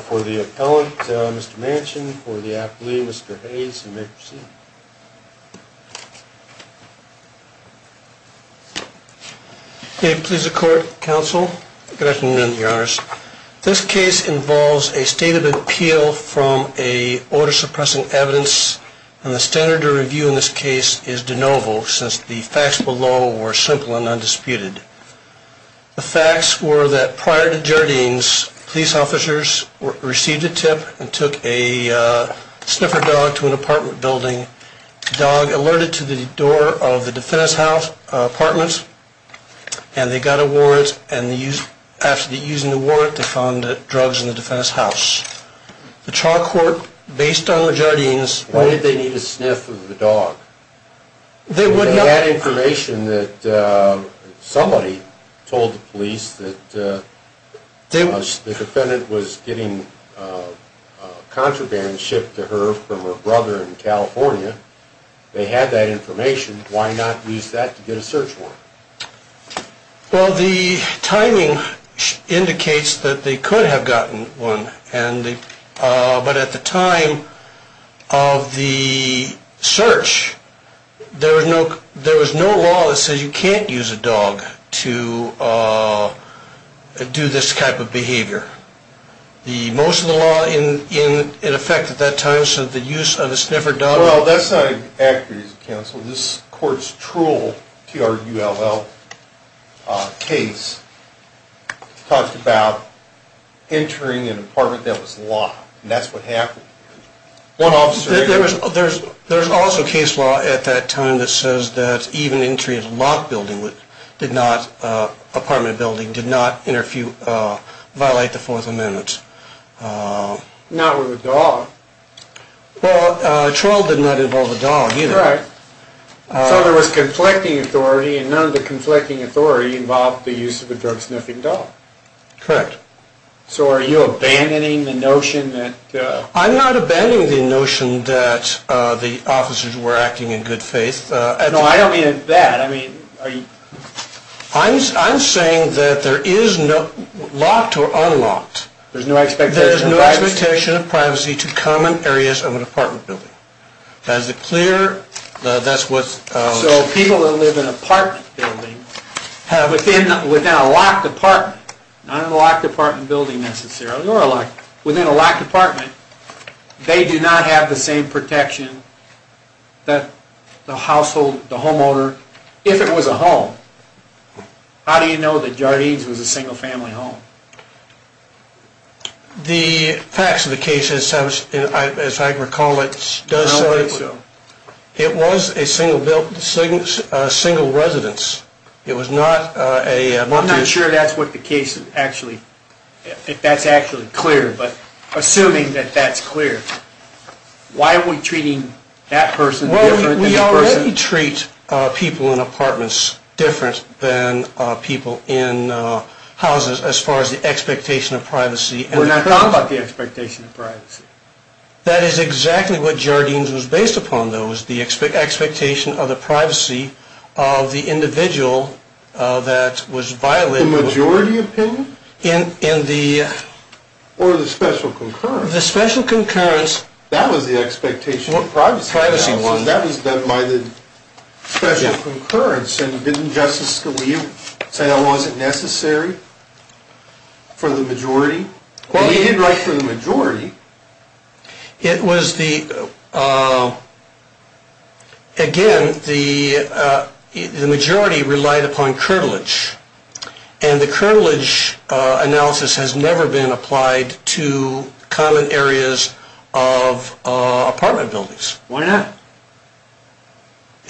For the appellant, Mr. Manchin, for the affilee, Mr. Hayes, you may proceed. Please the court, counsel. Good afternoon, your honors. This case involves a state of appeal from a order suppressing evidence, and the standard to review in this case is de novo, since the facts below were simple and undisputed. The facts were that prior to Jardines, police officers received a tip and took a sniffer dog to an apartment building. The dog alerted to the door of the defendant's apartment, and they got a warrant, and after using the warrant, they found drugs in the defendant's house. Why did they need a sniff of the dog? They had information that somebody told the police that the defendant was getting contraband shipped to her from her brother in California. They had that information. Why not use that to get a search warrant? Well, the timing indicates that they could have gotten one, but at the time of the search, there was no law that said you can't use a dog to do this type of behavior. Most of the law in effect at that time said the use of a sniffer dog... Well, that's not accurate, counsel. This court's true T-R-U-L-L case talked about entering an apartment that was locked, and that's what happened. There's also case law at that time that says that even entry of an apartment building did not violate the Fourth Amendment. Not with a dog. Well, a trial did not involve a dog either. So there was conflicting authority, and none of the conflicting authority involved the use of a drug-sniffing dog. Correct. So are you abandoning the notion that... I'm not abandoning the notion that the officers were acting in good faith. No, I don't mean that. I mean, are you... I'm saying that there is no... locked or unlocked. There's no expectation of privacy? There's no expectation of privacy to common areas of an apartment building. Is it clear? That's what... So people that live in apartment buildings, within a locked apartment, not in a locked apartment building necessarily, within a locked apartment, they do not have the same protection that the household, the homeowner, if it was a home. How do you know that Jardine's was a single-family home? The facts of the case, as I recall it, does say so. It was a single residence. It was not a... I'm not sure that's what the case actually... if that's actually clear, but assuming that that's clear, why are we treating that person different than the person... Well, we already treat people in apartments different than people in houses as far as the expectation of privacy. That is exactly what Jardine's was based upon, though, was the expectation of the privacy of the individual that was violating... The majority opinion? In the... Or the special concurrence. The special concurrence... That was the expectation of privacy. Privacy was. That was done by the special concurrence, and didn't Justice Scalia say that wasn't necessary for the majority? Well, he did write for the majority. It was the... Again, the majority relied upon curtilage, and the curtilage analysis has never been applied to common areas of apartment buildings. Why not?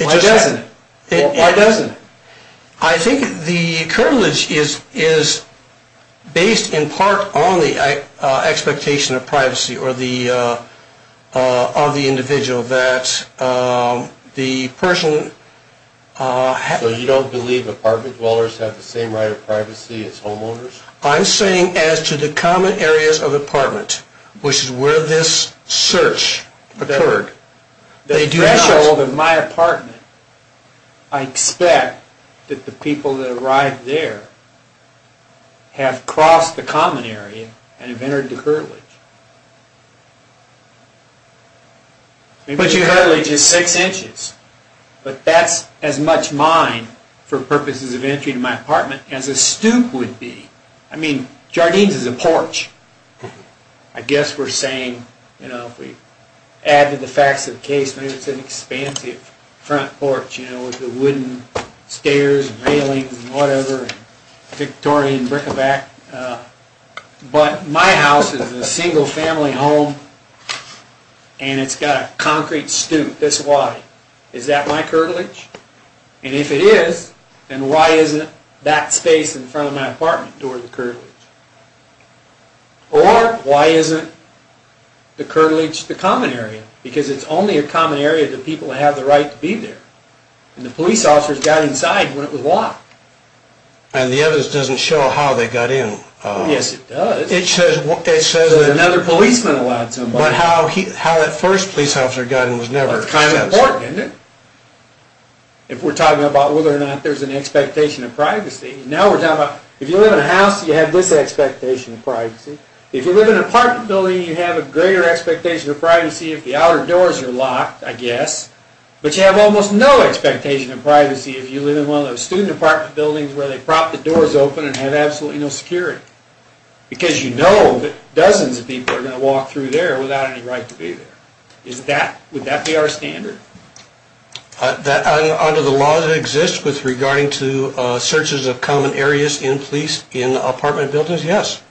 Why doesn't it? I think the curtilage is based in part on the expectation of privacy of the individual that the person... So you don't believe apartment dwellers have the same right of privacy as homeowners? I'm saying as to the common areas of apartment, which is where this search occurred. The threshold of my apartment, I expect that the people that arrived there have crossed the common area and have entered the curtilage. But your curtilage is six inches. But that's as much mine, for purposes of entry to my apartment, as a stoop would be. I mean, Jardine's is a porch. I guess we're saying, you know, if we add to the facts of the case, maybe it's an expansive front porch, you know, with the wooden stairs and railings and whatever, and Victorian bric-a-brac. But my house is a single-family home, and it's got a concrete stoop this wide. Is that my curtilage? And if it is, then why isn't that space in front of my apartment door the curtilage? Or why isn't the curtilage the common area? Because it's only a common area that people have the right to be there. And the police officers got inside when it was locked. And the evidence doesn't show how they got in. Yes, it does. It says that another policeman allowed somebody. But how that first police officer got in was never assessed. It's important, isn't it, if we're talking about whether or not there's an expectation of privacy. Now we're talking about, if you live in a house, you have this expectation of privacy. If you live in an apartment building, you have a greater expectation of privacy if the outer doors are locked, I guess. But you have almost no expectation of privacy if you live in one of those student apartment buildings where they prop the doors open and have absolutely no security. Because you know that dozens of people are going to walk through there without any right to be there. Would that be our standard? Under the law that exists with regarding to searches of common areas in police in apartment buildings, yes.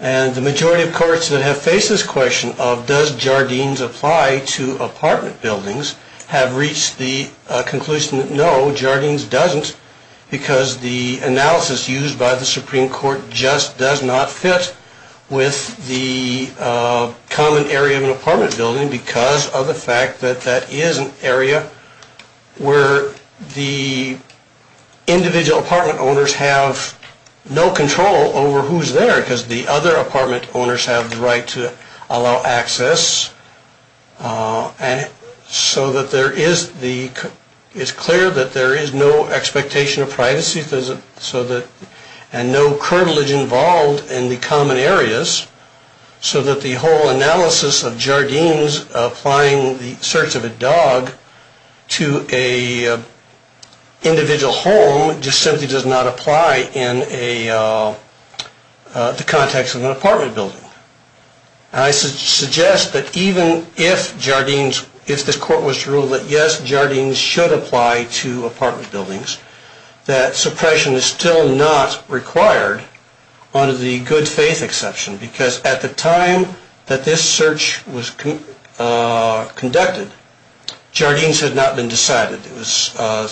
And the majority of courts that have faced this question of does Jardines apply to apartment buildings have reached the conclusion that no, Jardines doesn't, because the analysis used by the Supreme Court just does not fit with the common area of an apartment building because of the fact that that is an area where the individual apartment owners have no control over who's there because the other apartment owners have the right to allow access. And so that there is the, it's clear that there is no expectation of privacy so that, and no curvilage involved in the common areas so that the whole analysis of Jardines applying the search of a dog to a individual home just simply does not apply in a, the context of an apartment building. I suggest that even if Jardines, if this court was to rule that yes, Jardines should apply to apartment buildings, that suppression is still not required under the good faith exception because at the time that this search was conducted, Jardines had not been decided. It was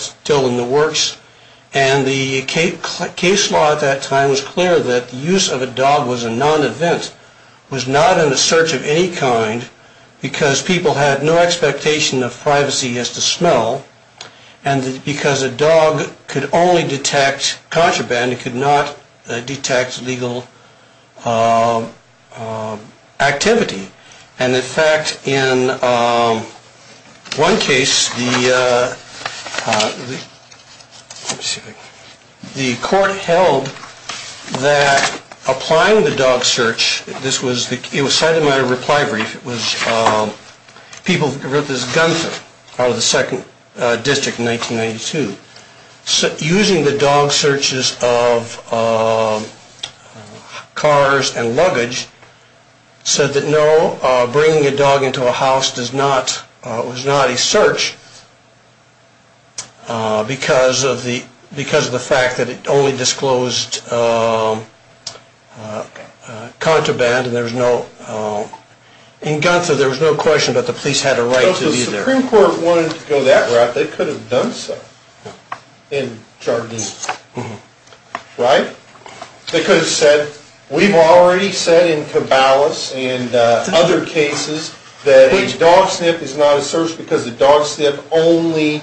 still in the works. And the case law at that time was clear that the use of a dog was a non-event, was not in the search of any kind because people had no expectation of privacy as to smell and because a dog could only detect contraband, it could not detect legal activity. And in fact, in one case, the court held that applying the dog search, this was, it was cited in my reply brief, it was people, it was Gunther out of the 2nd District in 1992, using the dog searches of cars and luggage said that no, bringing a dog into a house does not, was not a search because of the, because of the fact that it only disclosed contraband and there was no, in Gunther there was no question that the police had a right to be there. If the Supreme Court wanted to go that route, they could have done so in Jardines, right? They could have said, we've already said in Cabalas and other cases that a dog sniff is not a search because a dog sniff only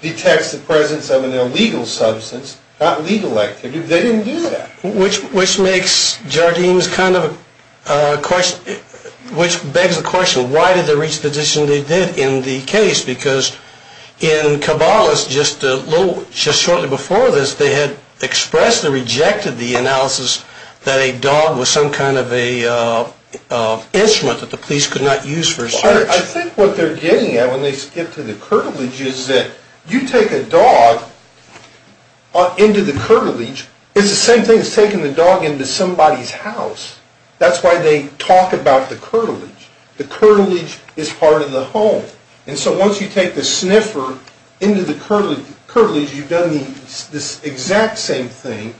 detects the presence of an illegal substance, not legal activity. They didn't do that. Which makes Jardines kind of a question, which begs the question, why did they reach the decision they did in the case? Because in Cabalas, just a little, just shortly before this, they had expressed or rejected the analysis that a dog was some kind of a instrument that the police could not use for a search. I think what they're getting at when they skip to the curtilage is that you take a dog into the curtilage, it's the same thing as taking the dog into somebody's house. That's why they talk about the curtilage. The curtilage is part of the home. And so once you take the sniffer into the curtilage, you've done this exact same thing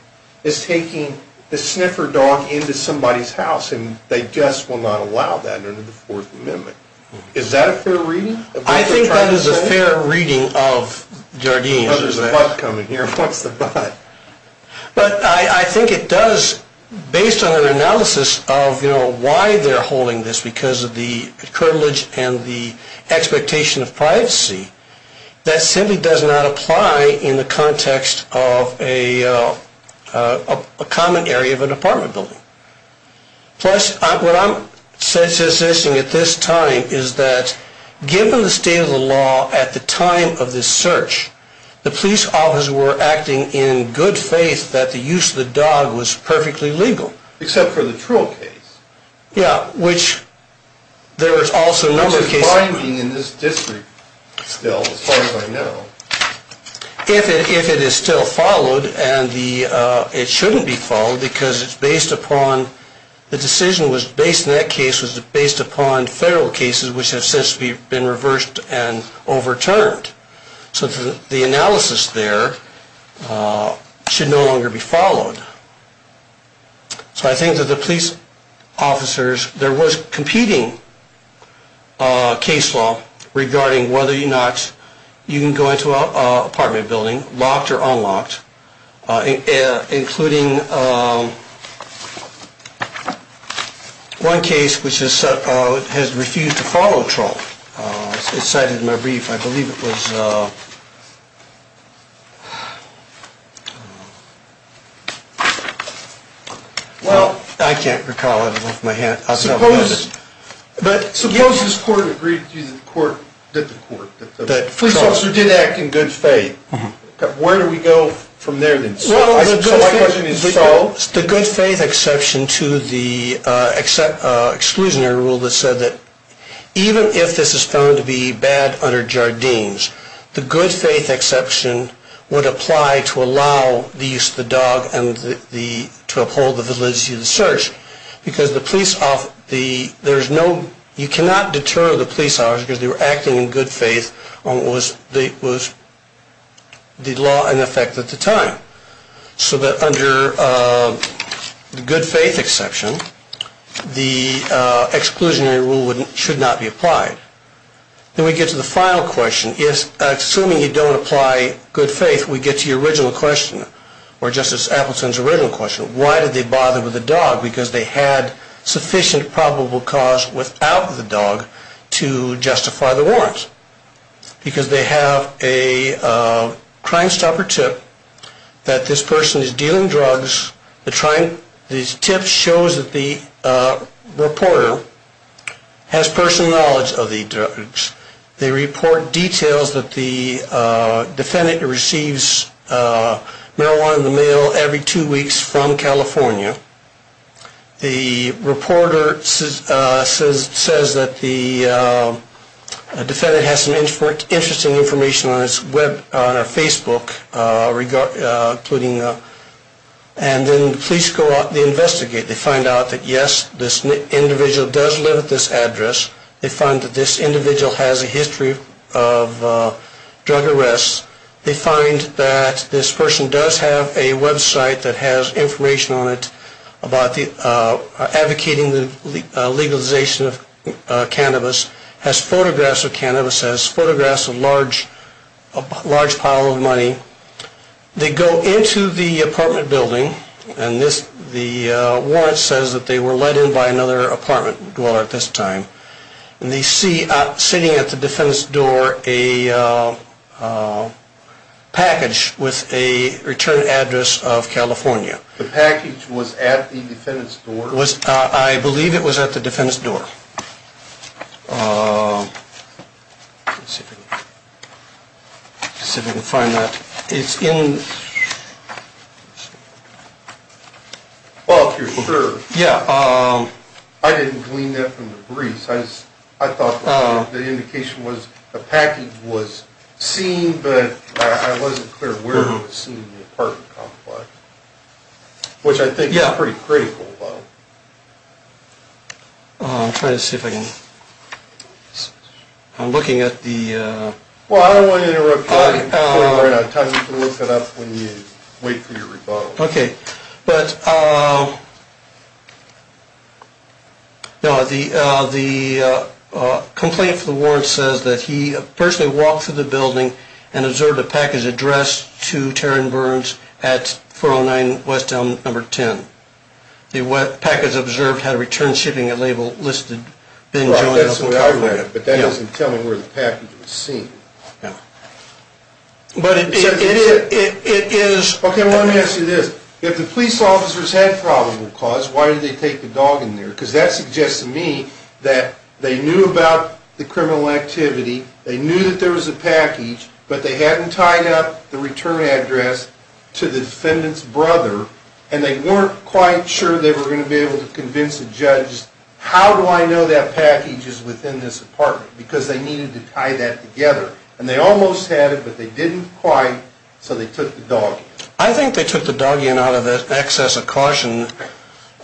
as taking the sniffer dog into somebody's house and they just will not allow that under the Fourth Amendment. Is that a fair reading? I think that is a fair reading of Jardines. There's a bug coming here. What's the bug? But I think it does, based on an analysis of why they're holding this, because of the curtilage and the expectation of privacy, that simply does not apply in the context of a common area of an apartment building. Plus, what I'm suggesting at this time is that given the state of the law at the time of this search, the police officers were acting in good faith that the use of the dog was perfectly legal. Except for the troll case. Yeah, which there was also a number of cases. Which is binding in this district still, as far as I know. If it is still followed, and it shouldn't be followed because it's based upon, the decision was based in that case was based upon federal cases which have since been reversed and overturned. So the analysis there should no longer be followed. So I think that the police officers, there was competing case law regarding whether or not you can go into an apartment building, locked or unlocked, including one case which has refused to follow a troll. It's cited in my brief. I believe it was, well, I can't recall it off my head. Suppose this court agreed that the police officer did act in good faith. Where do we go from there then? The good faith exception to the exclusionary rule that said that even if this is found to be bad under Jardines, the good faith exception would apply to allow the use of the dog and to uphold the validity of the search. Because you cannot deter the police officers because they were acting in good faith on what was the law in effect at the time. So that under the good faith exception, the exclusionary rule should not be applied. Then we get to the final question. Assuming you don't apply good faith, we get to your original question, or Justice Appleton's original question. Why did they bother with the dog? Because they had sufficient probable cause without the dog to justify the warrants. Because they have a Crime Stopper tip that this person is dealing drugs. The tip shows that the reporter has personal knowledge of the drugs. They report details that the defendant receives marijuana in the mail every two weeks from California. The reporter says that the defendant has some interesting information on her Facebook. And then the police go out and they investigate. They find out that yes, this individual does live at this address. They find that this individual has a history of drug arrests. They find that this person does have a website that has information on it about advocating the legalization of cannabis. Has photographs of cannabis. Has photographs of a large pile of money. They go into the apartment building and the warrant says that they were let in by another apartment dweller at this time. And they see sitting at the defendant's door a package with a return address of California. The package was at the defendant's door? I believe it was at the defendant's door. Let's see if we can find that. Well, if you're sure. Yeah. I didn't glean that from the briefs. I thought the indication was the package was seen, but I wasn't clear where it was seen in the apartment complex. Which I think is pretty critical, though. I'm trying to see if I can. I'm looking at the. Well, I don't want to interrupt you. I'll tell you to look it up when you wait for your rebuttal. Okay. But the complaint for the warrant says that he personally walked through the building and observed a package addressed to Taryn Burns at 409 West Elm number 10. The package observed had a return shipping label listed. That's what I read, but that doesn't tell me where the package was seen. Yeah. But it is. Okay, let me ask you this. If the police officers had probable cause, why did they take the dog in there? Because that suggests to me that they knew about the criminal activity. They knew that there was a package, but they hadn't tied up the return address to the defendant's brother. And they weren't quite sure they were going to be able to convince the judge. How do I know that package is within this apartment? Because they needed to tie that together. And they almost had it, but they didn't quite. So they took the dog. I think they took the dog in out of the excess of caution.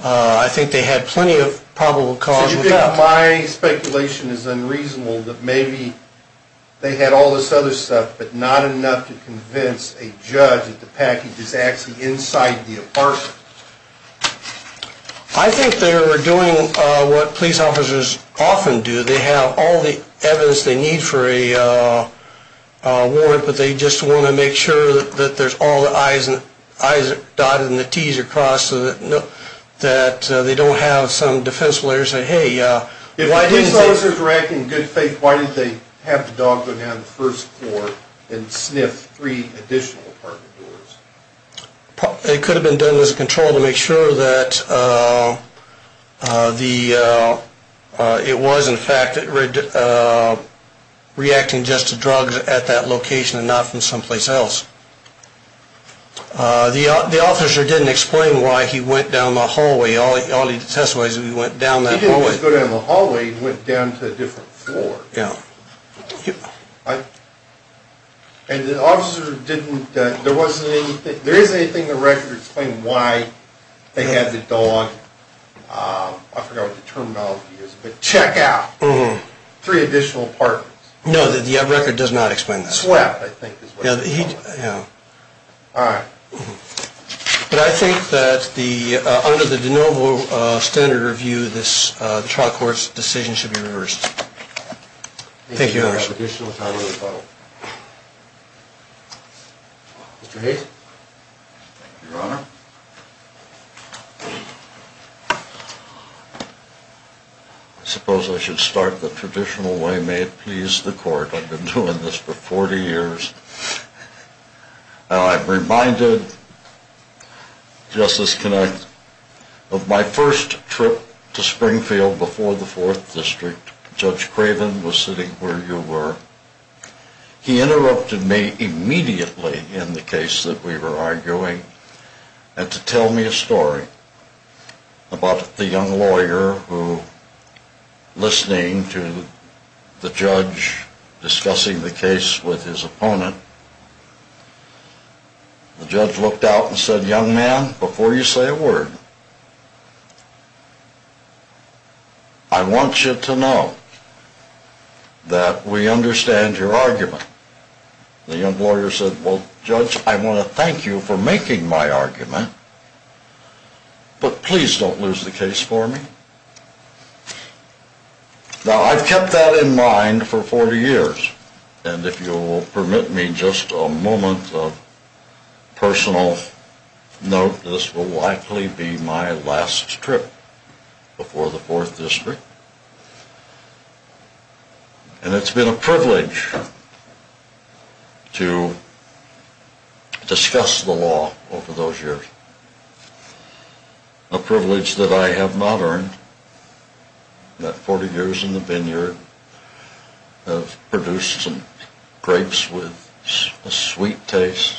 I think they had plenty of probable cause. My speculation is unreasonable that maybe they had all this other stuff, but not enough to convince a judge that the package is actually inside the apartment. I think they were doing what police officers often do. They have all the evidence they need for a warrant, but they just want to make sure that there's all the I's dotted and the T's are crossed so that they don't have some defense lawyer say, hey, why didn't they? If the police officers were acting in good faith, why didn't they have the dog go down to the first floor and sniff three additional apartment doors? It could have been done as a control to make sure that it was, in fact, reacting just to drugs at that location and not from someplace else. The officer didn't explain why he went down the hallway. All he testified is he went down that hallway. He didn't just go down the hallway. He went down to a different floor. Yeah. And the officer didn't, there wasn't anything, there isn't anything in the record to explain why they had the dog, I forgot what the terminology is, but check out three additional apartments. No, the record does not explain that. Yeah. All right. But I think that under the de novo standard review, this trial court's decision should be reversed. Thank you, Your Honor. Mr. Hayes. Your Honor. I suppose I should start the traditional way. May it please the court. I've been doing this for 40 years. I'm reminded, Justice Connacht, of my first trip to Springfield before the Fourth District. Judge Craven was sitting where you were. He interrupted me immediately in the case that we were arguing and to tell me a story about the young lawyer who, listening to the judge discussing the case with his opponent, the judge looked out and said, Young man, before you say a word, I want you to know that we understand your argument. The young lawyer said, Well, Judge, I want to thank you for making my argument, but please don't lose the case for me. Now, I've kept that in mind for 40 years, and if you will permit me just a moment of personal note, this will likely be my last trip before the Fourth District. And it's been a privilege to discuss the law over those years, a privilege that I have not earned. In that 40 years in the vineyard, I've produced some grapes with a sweet taste,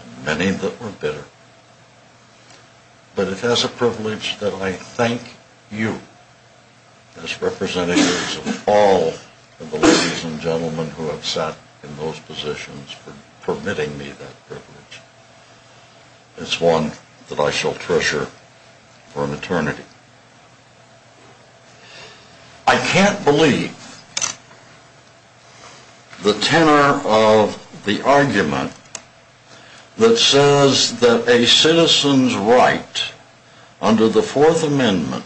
and many that were bitter. But it has a privilege that I thank you, as representatives of all of the ladies and gentlemen for permitting me that privilege. It's one that I shall treasure for an eternity. I can't believe the tenor of the argument that says that a citizen's right under the Fourth Amendment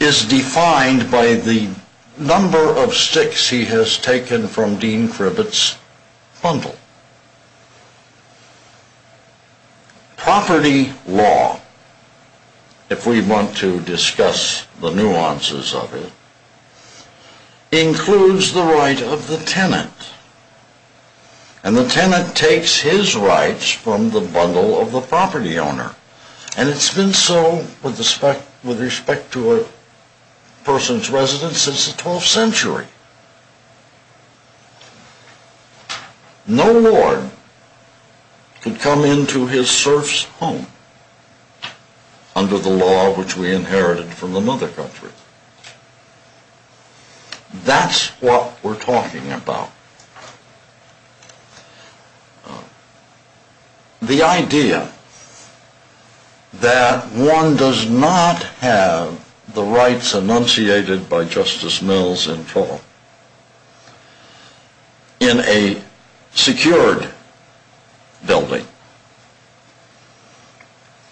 is defined by the number of sticks he has taken from Dean Kribitz's bundle. Property law, if we want to discuss the nuances of it, includes the right of the tenant. And the tenant takes his rights from the bundle of the property owner. And it's been so with respect to a person's residence since the 12th century. No lord can come into his serf's home under the law which we inherited from the mother country. That's what we're talking about. The idea that one does not have the rights enunciated by Justice Mills in full in a secured building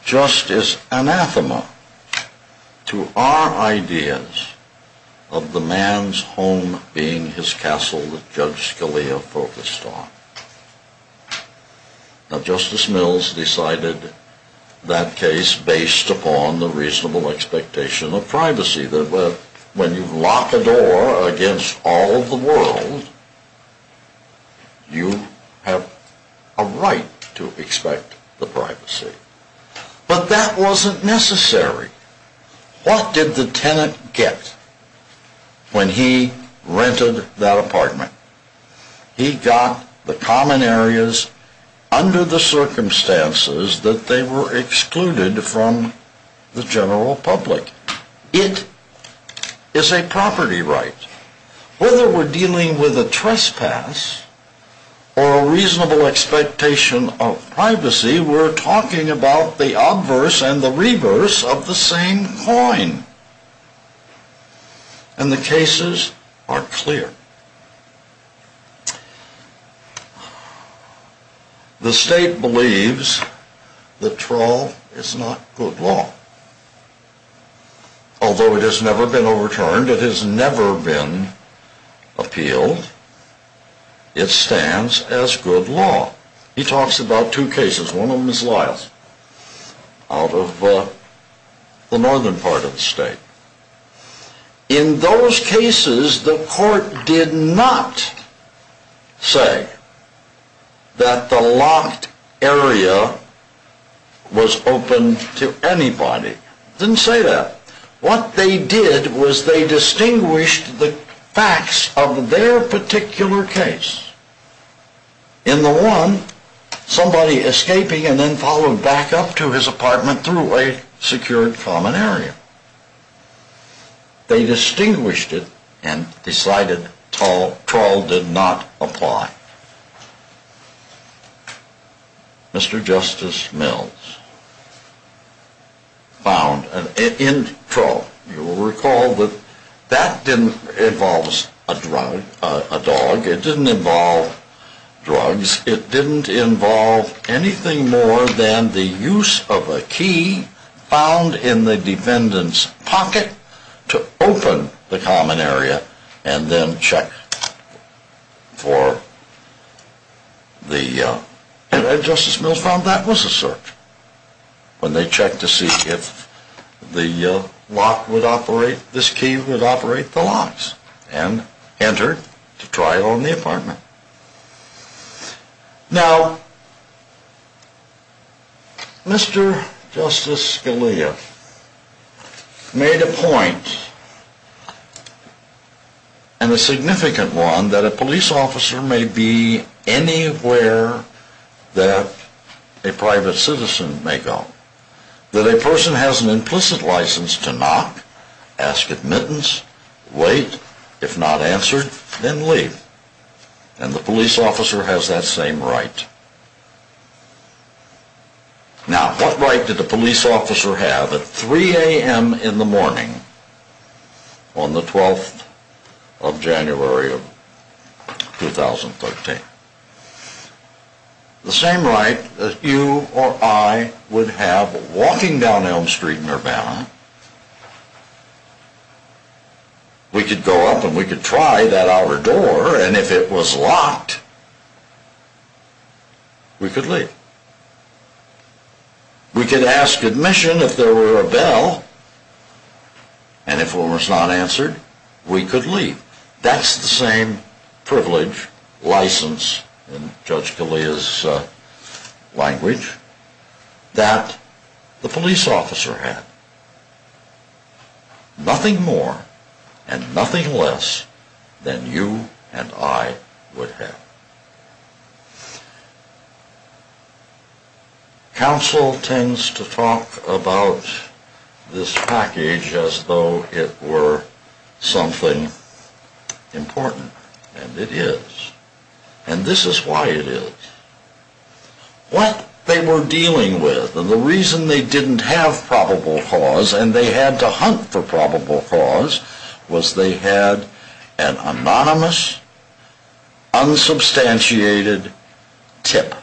just is anathema to our ideas of the man's home being his castle that Judge Scalia focused on. Now Justice Mills decided that case based upon the reasonable expectation of privacy. When you lock a door against all of the world, you have a right to expect the privacy. But that wasn't necessary. What did the tenant get when he rented that apartment? He got the common areas under the circumstances that they were excluded from the general public. It is a property right. Whether we're dealing with a trespass or a reasonable expectation of privacy, we're talking about the obverse and the reverse of the same coin. And the cases are clear. The state believes that trawl is not good law. Although it has never been overturned, it has never been appealed, it stands as good law. He talks about two cases. One of them is Lyles. Out of the northern part of the state. In those cases the court did not say that the locked area was open to anybody. It didn't say that. What they did was they distinguished the facts of their particular case. In the one, somebody escaping and then followed back up to his apartment through a secured common area. They distinguished it and decided trawl did not apply. Mr. Justice Mills found in trawl, you will recall that that didn't involve a dog, it didn't involve drugs, it didn't involve anything more than the use of a key found in the defendant's pocket to open the common area and then check for the, and Justice Mills found that was a search. When they checked to see if the lock would operate, this key would operate the locks and enter to trial in the apartment. Now, Mr. Justice Scalia made a point, and a significant one, that a police officer may be anywhere that a private citizen may go. That a person has an implicit license to knock, ask admittance, wait, if not answered, then leave. And the police officer has that same right. Now, what right did the police officer have at 3 a.m. in the morning on the 12th of January of 2013? The same right that you or I would have walking down Elm Street in Urbana. We could go up and we could try that outer door, and if it was locked, we could leave. We could ask admission if there were a bell, and if it was not answered, we could leave. That's the same privilege, license, in Judge Scalia's language, that the police officer had. Nothing more and nothing less than you and I would have. Now, counsel tends to talk about this package as though it were something important, and it is. And this is why it is. What they were dealing with, and the reason they didn't have probable cause, and they had to hunt for probable cause, was they had an anonymous, unsubstantiated tip.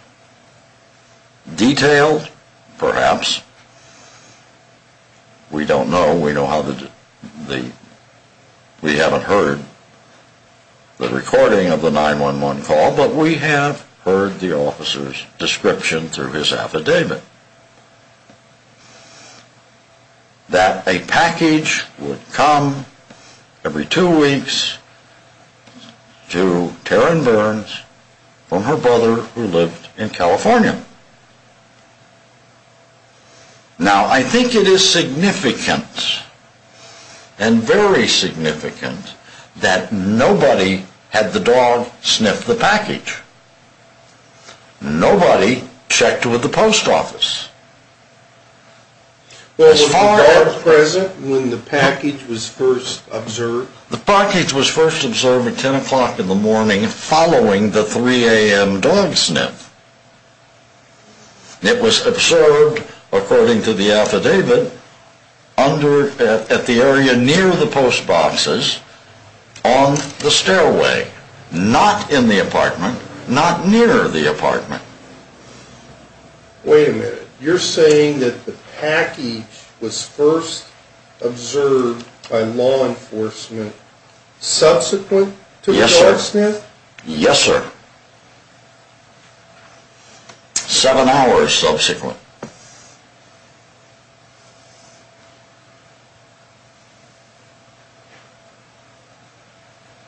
Detailed, perhaps. We don't know. We haven't heard the recording of the 911 call, but we have heard the officer's description through his affidavit. That a package would come every two weeks to Taryn Burns from her brother who lived in California. Now, I think it is significant, and very significant, that nobody had the dog sniff the package. Nobody checked with the post office. Well, was the dog present when the package was first observed? The package was first observed at 10 o'clock in the morning following the 3 a.m. dog sniff. It was observed, according to the affidavit, at the area near the post boxes on the stairway. Not in the apartment. Not near the apartment. Wait a minute. You're saying that the package was first observed by law enforcement subsequent to the dog sniff? Yes, sir. Seven hours subsequent.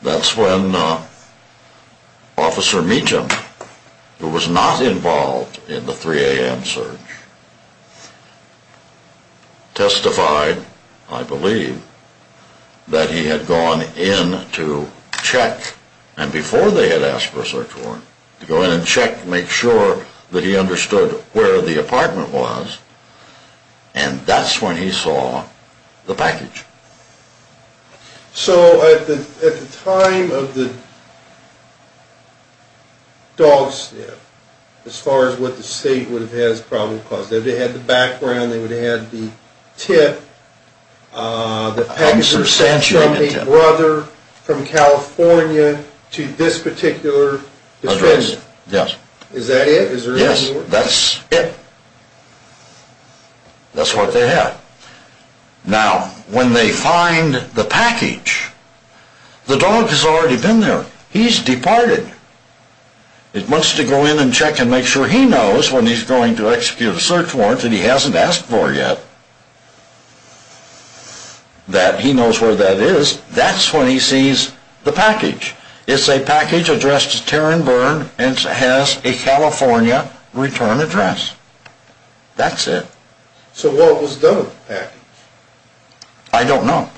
That's when Officer Meacham, who was not involved in the 3 a.m. search, testified, I believe, that he had gone in to check. And before they had asked for a search warrant, to go in and check to make sure that he understood where the apartment was. And that's when he saw the package. So, at the time of the dog sniff, as far as what the state would have had as a problem to cause, they would have had the background, they would have had the tip, the package was sent from a brother from California to this particular district. Is that it? Yes, that's it. That's what they had. Now, when they find the package, the dog has already been there. He's departed. It wants to go in and check and make sure he knows when he's going to execute a search warrant that he hasn't asked for yet. That he knows where that is. That's when he sees the package. It's a package addressed to Taryn Byrne and has a California return address. That's it. So what was done with the package? I don't know.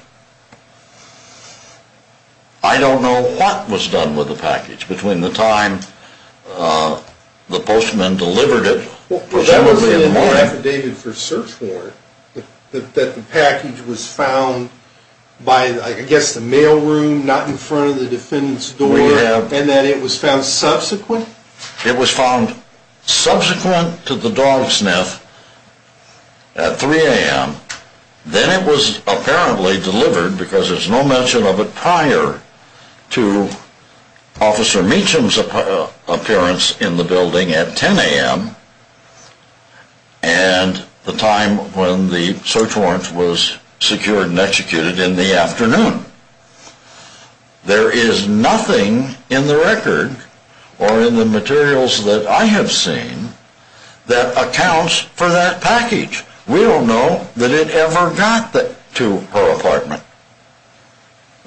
I don't know what was done with the package between the time the postman delivered it. Was there really an affidavit for search warrant that the package was found by, I guess, the mail room, not in front of the defendant's door? And that it was found subsequent? It was found subsequent to the dog sniff at 3 a.m. Then it was apparently delivered, because there's no mention of it prior to Officer Meacham's appearance in the building at 10 a.m. and the time when the search warrant was secured and executed in the afternoon. There is nothing in the record or in the materials that I have seen that accounts for that package. We don't know that it ever got to her apartment.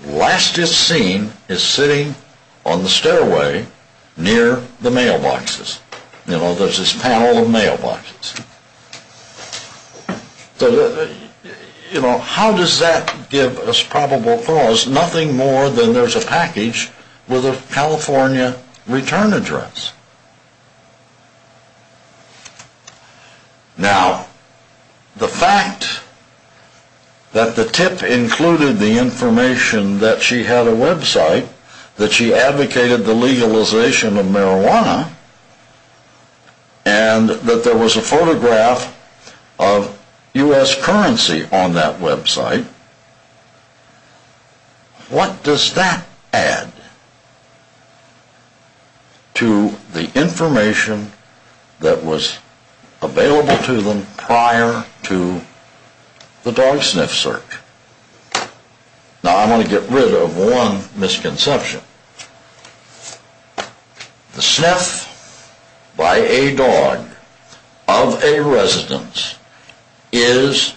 Last it's seen is sitting on the stairway near the mailboxes. You know, there's this panel of mailboxes. You know, how does that give us probable cause? Nothing more than there's a package with a California return address. Now, the fact that the tip included the information that she had a website, that she advocated the legalization of marijuana, and that there was a photograph of U.S. currency on that website, what does that add to the information that was available to them prior to the dog sniff search? Now, I want to get rid of one misconception. The sniff by a dog of a residence is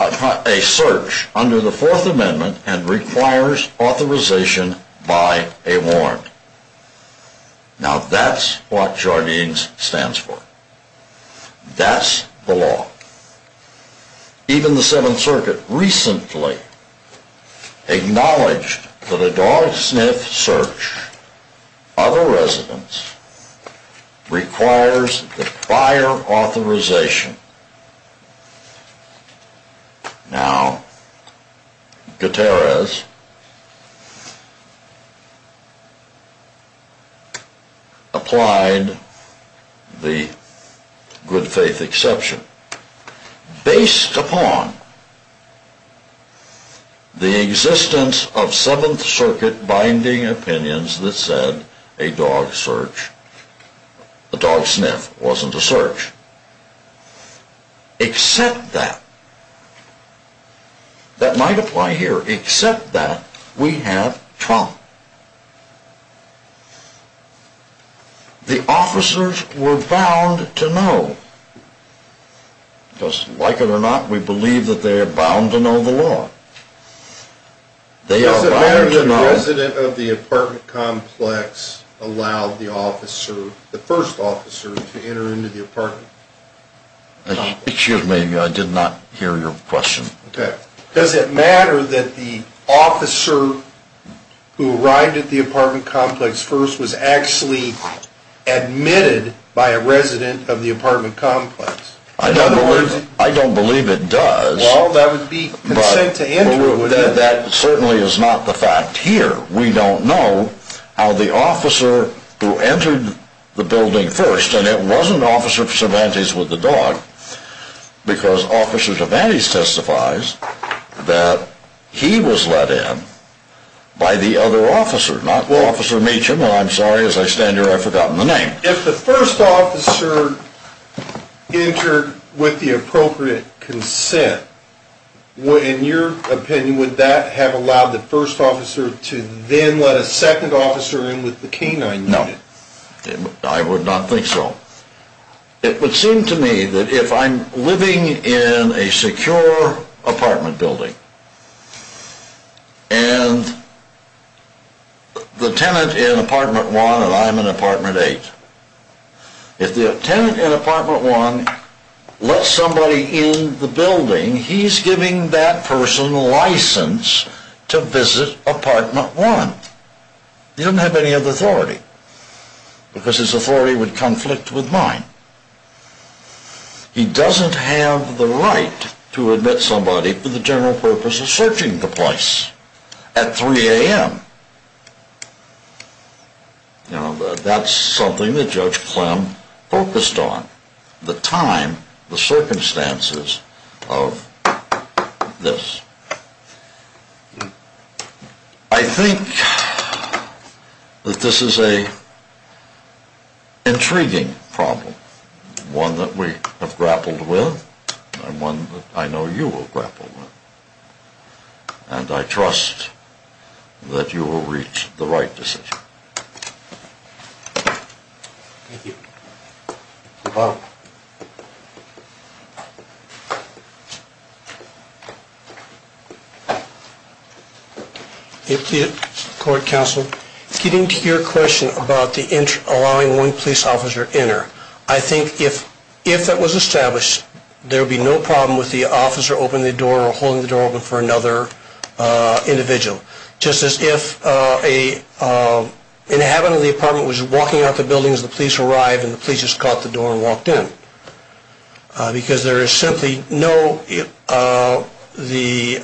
a search under the Fourth Amendment and requires authorization by a warrant. Now, that's what Jardines stands for. That's the law. Even the Seventh Circuit recently acknowledged that a dog sniff search of a residence requires the prior authorization. Now, Gutierrez applied the good faith exception based upon the existence of Seventh Circuit binding opinions that said a dog sniff wasn't a search. Except that, that might apply here, except that we have trauma. The officers were bound to know, because like it or not, we believe that they are bound to know the law. Does it matter that a resident of the apartment complex allowed the officer, the first officer, to enter into the apartment? Excuse me, I did not hear your question. Does it matter that the officer who arrived at the apartment complex first was actually admitted by a resident of the apartment complex? I don't believe it does. Well, that would be consent to entry, wouldn't it? That certainly is not the fact here. We don't know how the officer who entered the building first, and it wasn't Officer Cervantes with the dog, because Officer Cervantes testifies that he was let in by the other officer, not Officer Meacham. I'm sorry, as I stand here I've forgotten the name. If the first officer entered with the appropriate consent, in your opinion, would that have allowed the first officer to then let a second officer in with the canine unit? No, I would not think so. It would seem to me that if I'm living in a secure apartment building, and the tenant in apartment 1 and I'm in apartment 8, if the tenant in apartment 1 lets somebody in the building, he's giving that person license to visit apartment 1. He doesn't have any other authority, because his authority would conflict with mine. He doesn't have the right to admit somebody for the general purpose of searching the place at 3 a.m. That's something that Judge Clem focused on, the time, the circumstances of this. I think that this is an intriguing problem, one that we have grappled with, and one that I know you will grapple with. And I trust that you will reach the right decision. Mr. Powell. If the court counsel, getting to your question about allowing one police officer to enter, I think if that was established, there would be no problem with the officer opening the door or holding the door open for another individual. Just as if an inhabitant of the apartment was walking out the building as the police arrived and the police just caught the door and walked in. Because there is simply no, the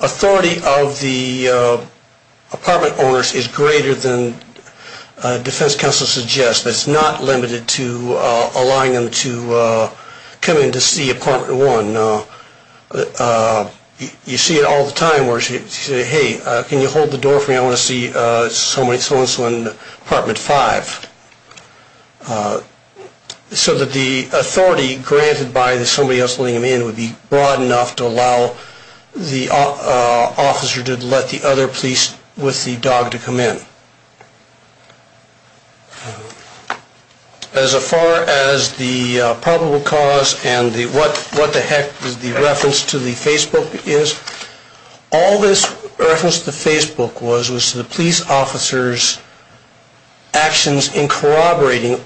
authority of the apartment owners is greater than defense counsel suggests. It's not limited to allowing them to come in to see apartment 1. You see it all the time where she says, hey, can you hold the door for me, I want to see so and so in apartment 5. So that the authority granted by somebody else letting them in would be broad enough to allow the officer to let the other police with the dog to come in. As far as the probable cause and what the heck the reference to the Facebook is, all this reference to Facebook was was to the police officers' actions in corroborating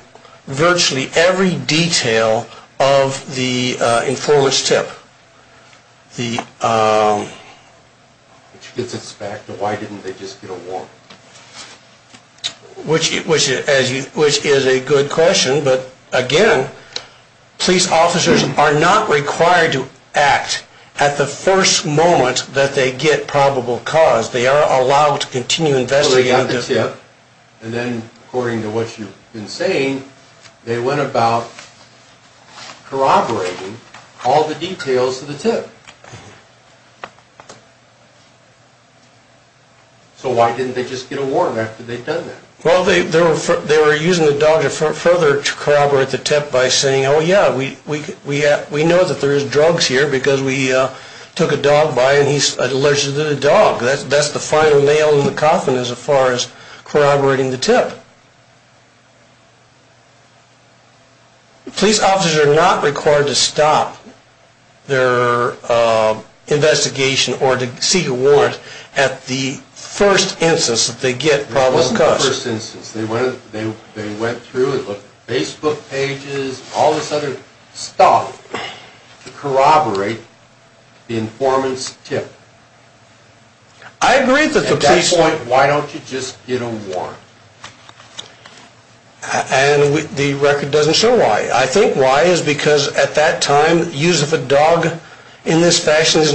virtually every detail of the informant's tip. Which gets us back to why didn't they just get a warrant? Which is a good question, but again, police officers are not required to act at the first moment that they get probable cause. They are allowed to continue investigating. And then according to what you've been saying, they went about corroborating all the details of the tip. So why didn't they just get a warrant after they've done that? Well, they were using the dog to further corroborate the tip by saying, oh yeah, we know that there is drugs here because we took a dog by and he's allergic to the dog. That's the final nail in the coffin as far as corroborating the tip. Police officers are not required to stop their investigation or to seek a warrant at the first instance that they get probable cause. It wasn't the first instance. They went through Facebook pages and all this other stuff to corroborate the informant's tip. At that point, why don't you just get a warrant? And the record doesn't show why. I think why is because at that time, use of a dog in this fashion was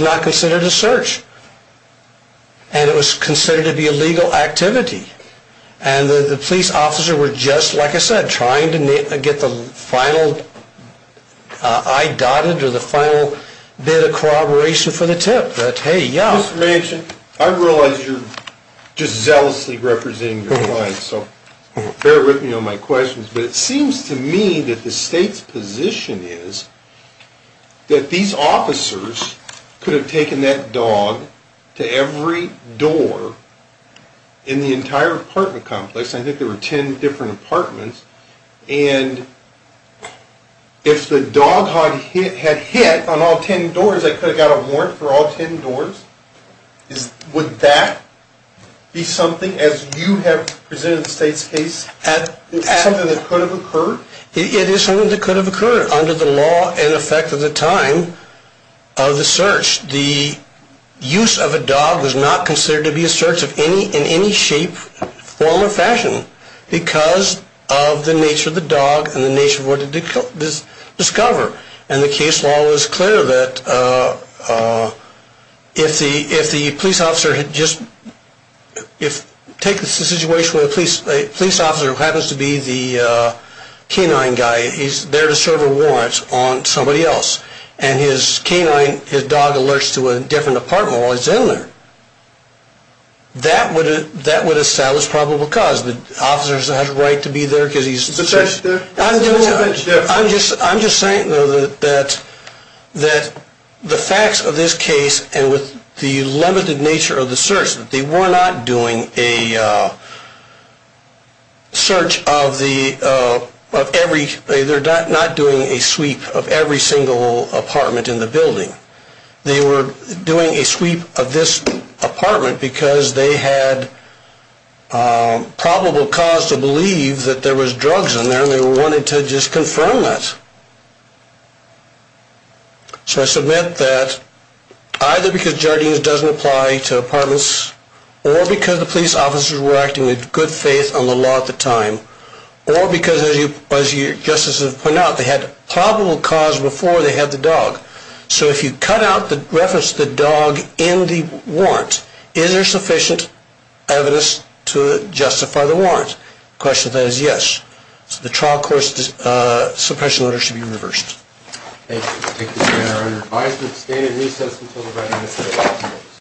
not considered a search. And it was considered to be a legal activity. And the police officer were just, like I said, trying to get the final eye dotted or the final bit of corroboration for the tip. Mr. Manchin, I realize you're just zealously representing your client, so bear with me on my questions. But it seems to me that the state's position is that these officers could have taken that dog to every door in the entire apartment complex. I think there were ten different apartments. And if the dog had hit on all ten doors, they could have got a warrant for all ten doors. Would that be something, as you have presented the state's case, something that could have occurred? It is something that could have occurred under the law and effect of the time of the search. The use of a dog was not considered to be a search in any shape, form, or fashion. Because of the nature of the dog and the nature of what it discovered. And the case law was clear that if the police officer had just, take the situation where the police officer happens to be the canine guy. He's there to serve a warrant on somebody else. And his canine, his dog, alerts to a different apartment while he's in there. That would establish probable cause. The officer has a right to be there. I'm just saying though that the facts of this case and with the limited nature of the search. They were not doing a sweep of every single apartment in the building. They were doing a sweep of this apartment because they had probable cause to believe that there was drugs in there. And they wanted to just confirm that. So I submit that either because Jardine's doesn't apply to apartments. Or because the police officers were acting with good faith on the law at the time. Or because as your justices have pointed out, they had probable cause before they had the dog. So if you cut out the reference to the dog in the warrant. Is there sufficient evidence to justify the warrant? The question to that is yes. So the trial court's suppression order should be reversed. Thank you. Thank you, your honor.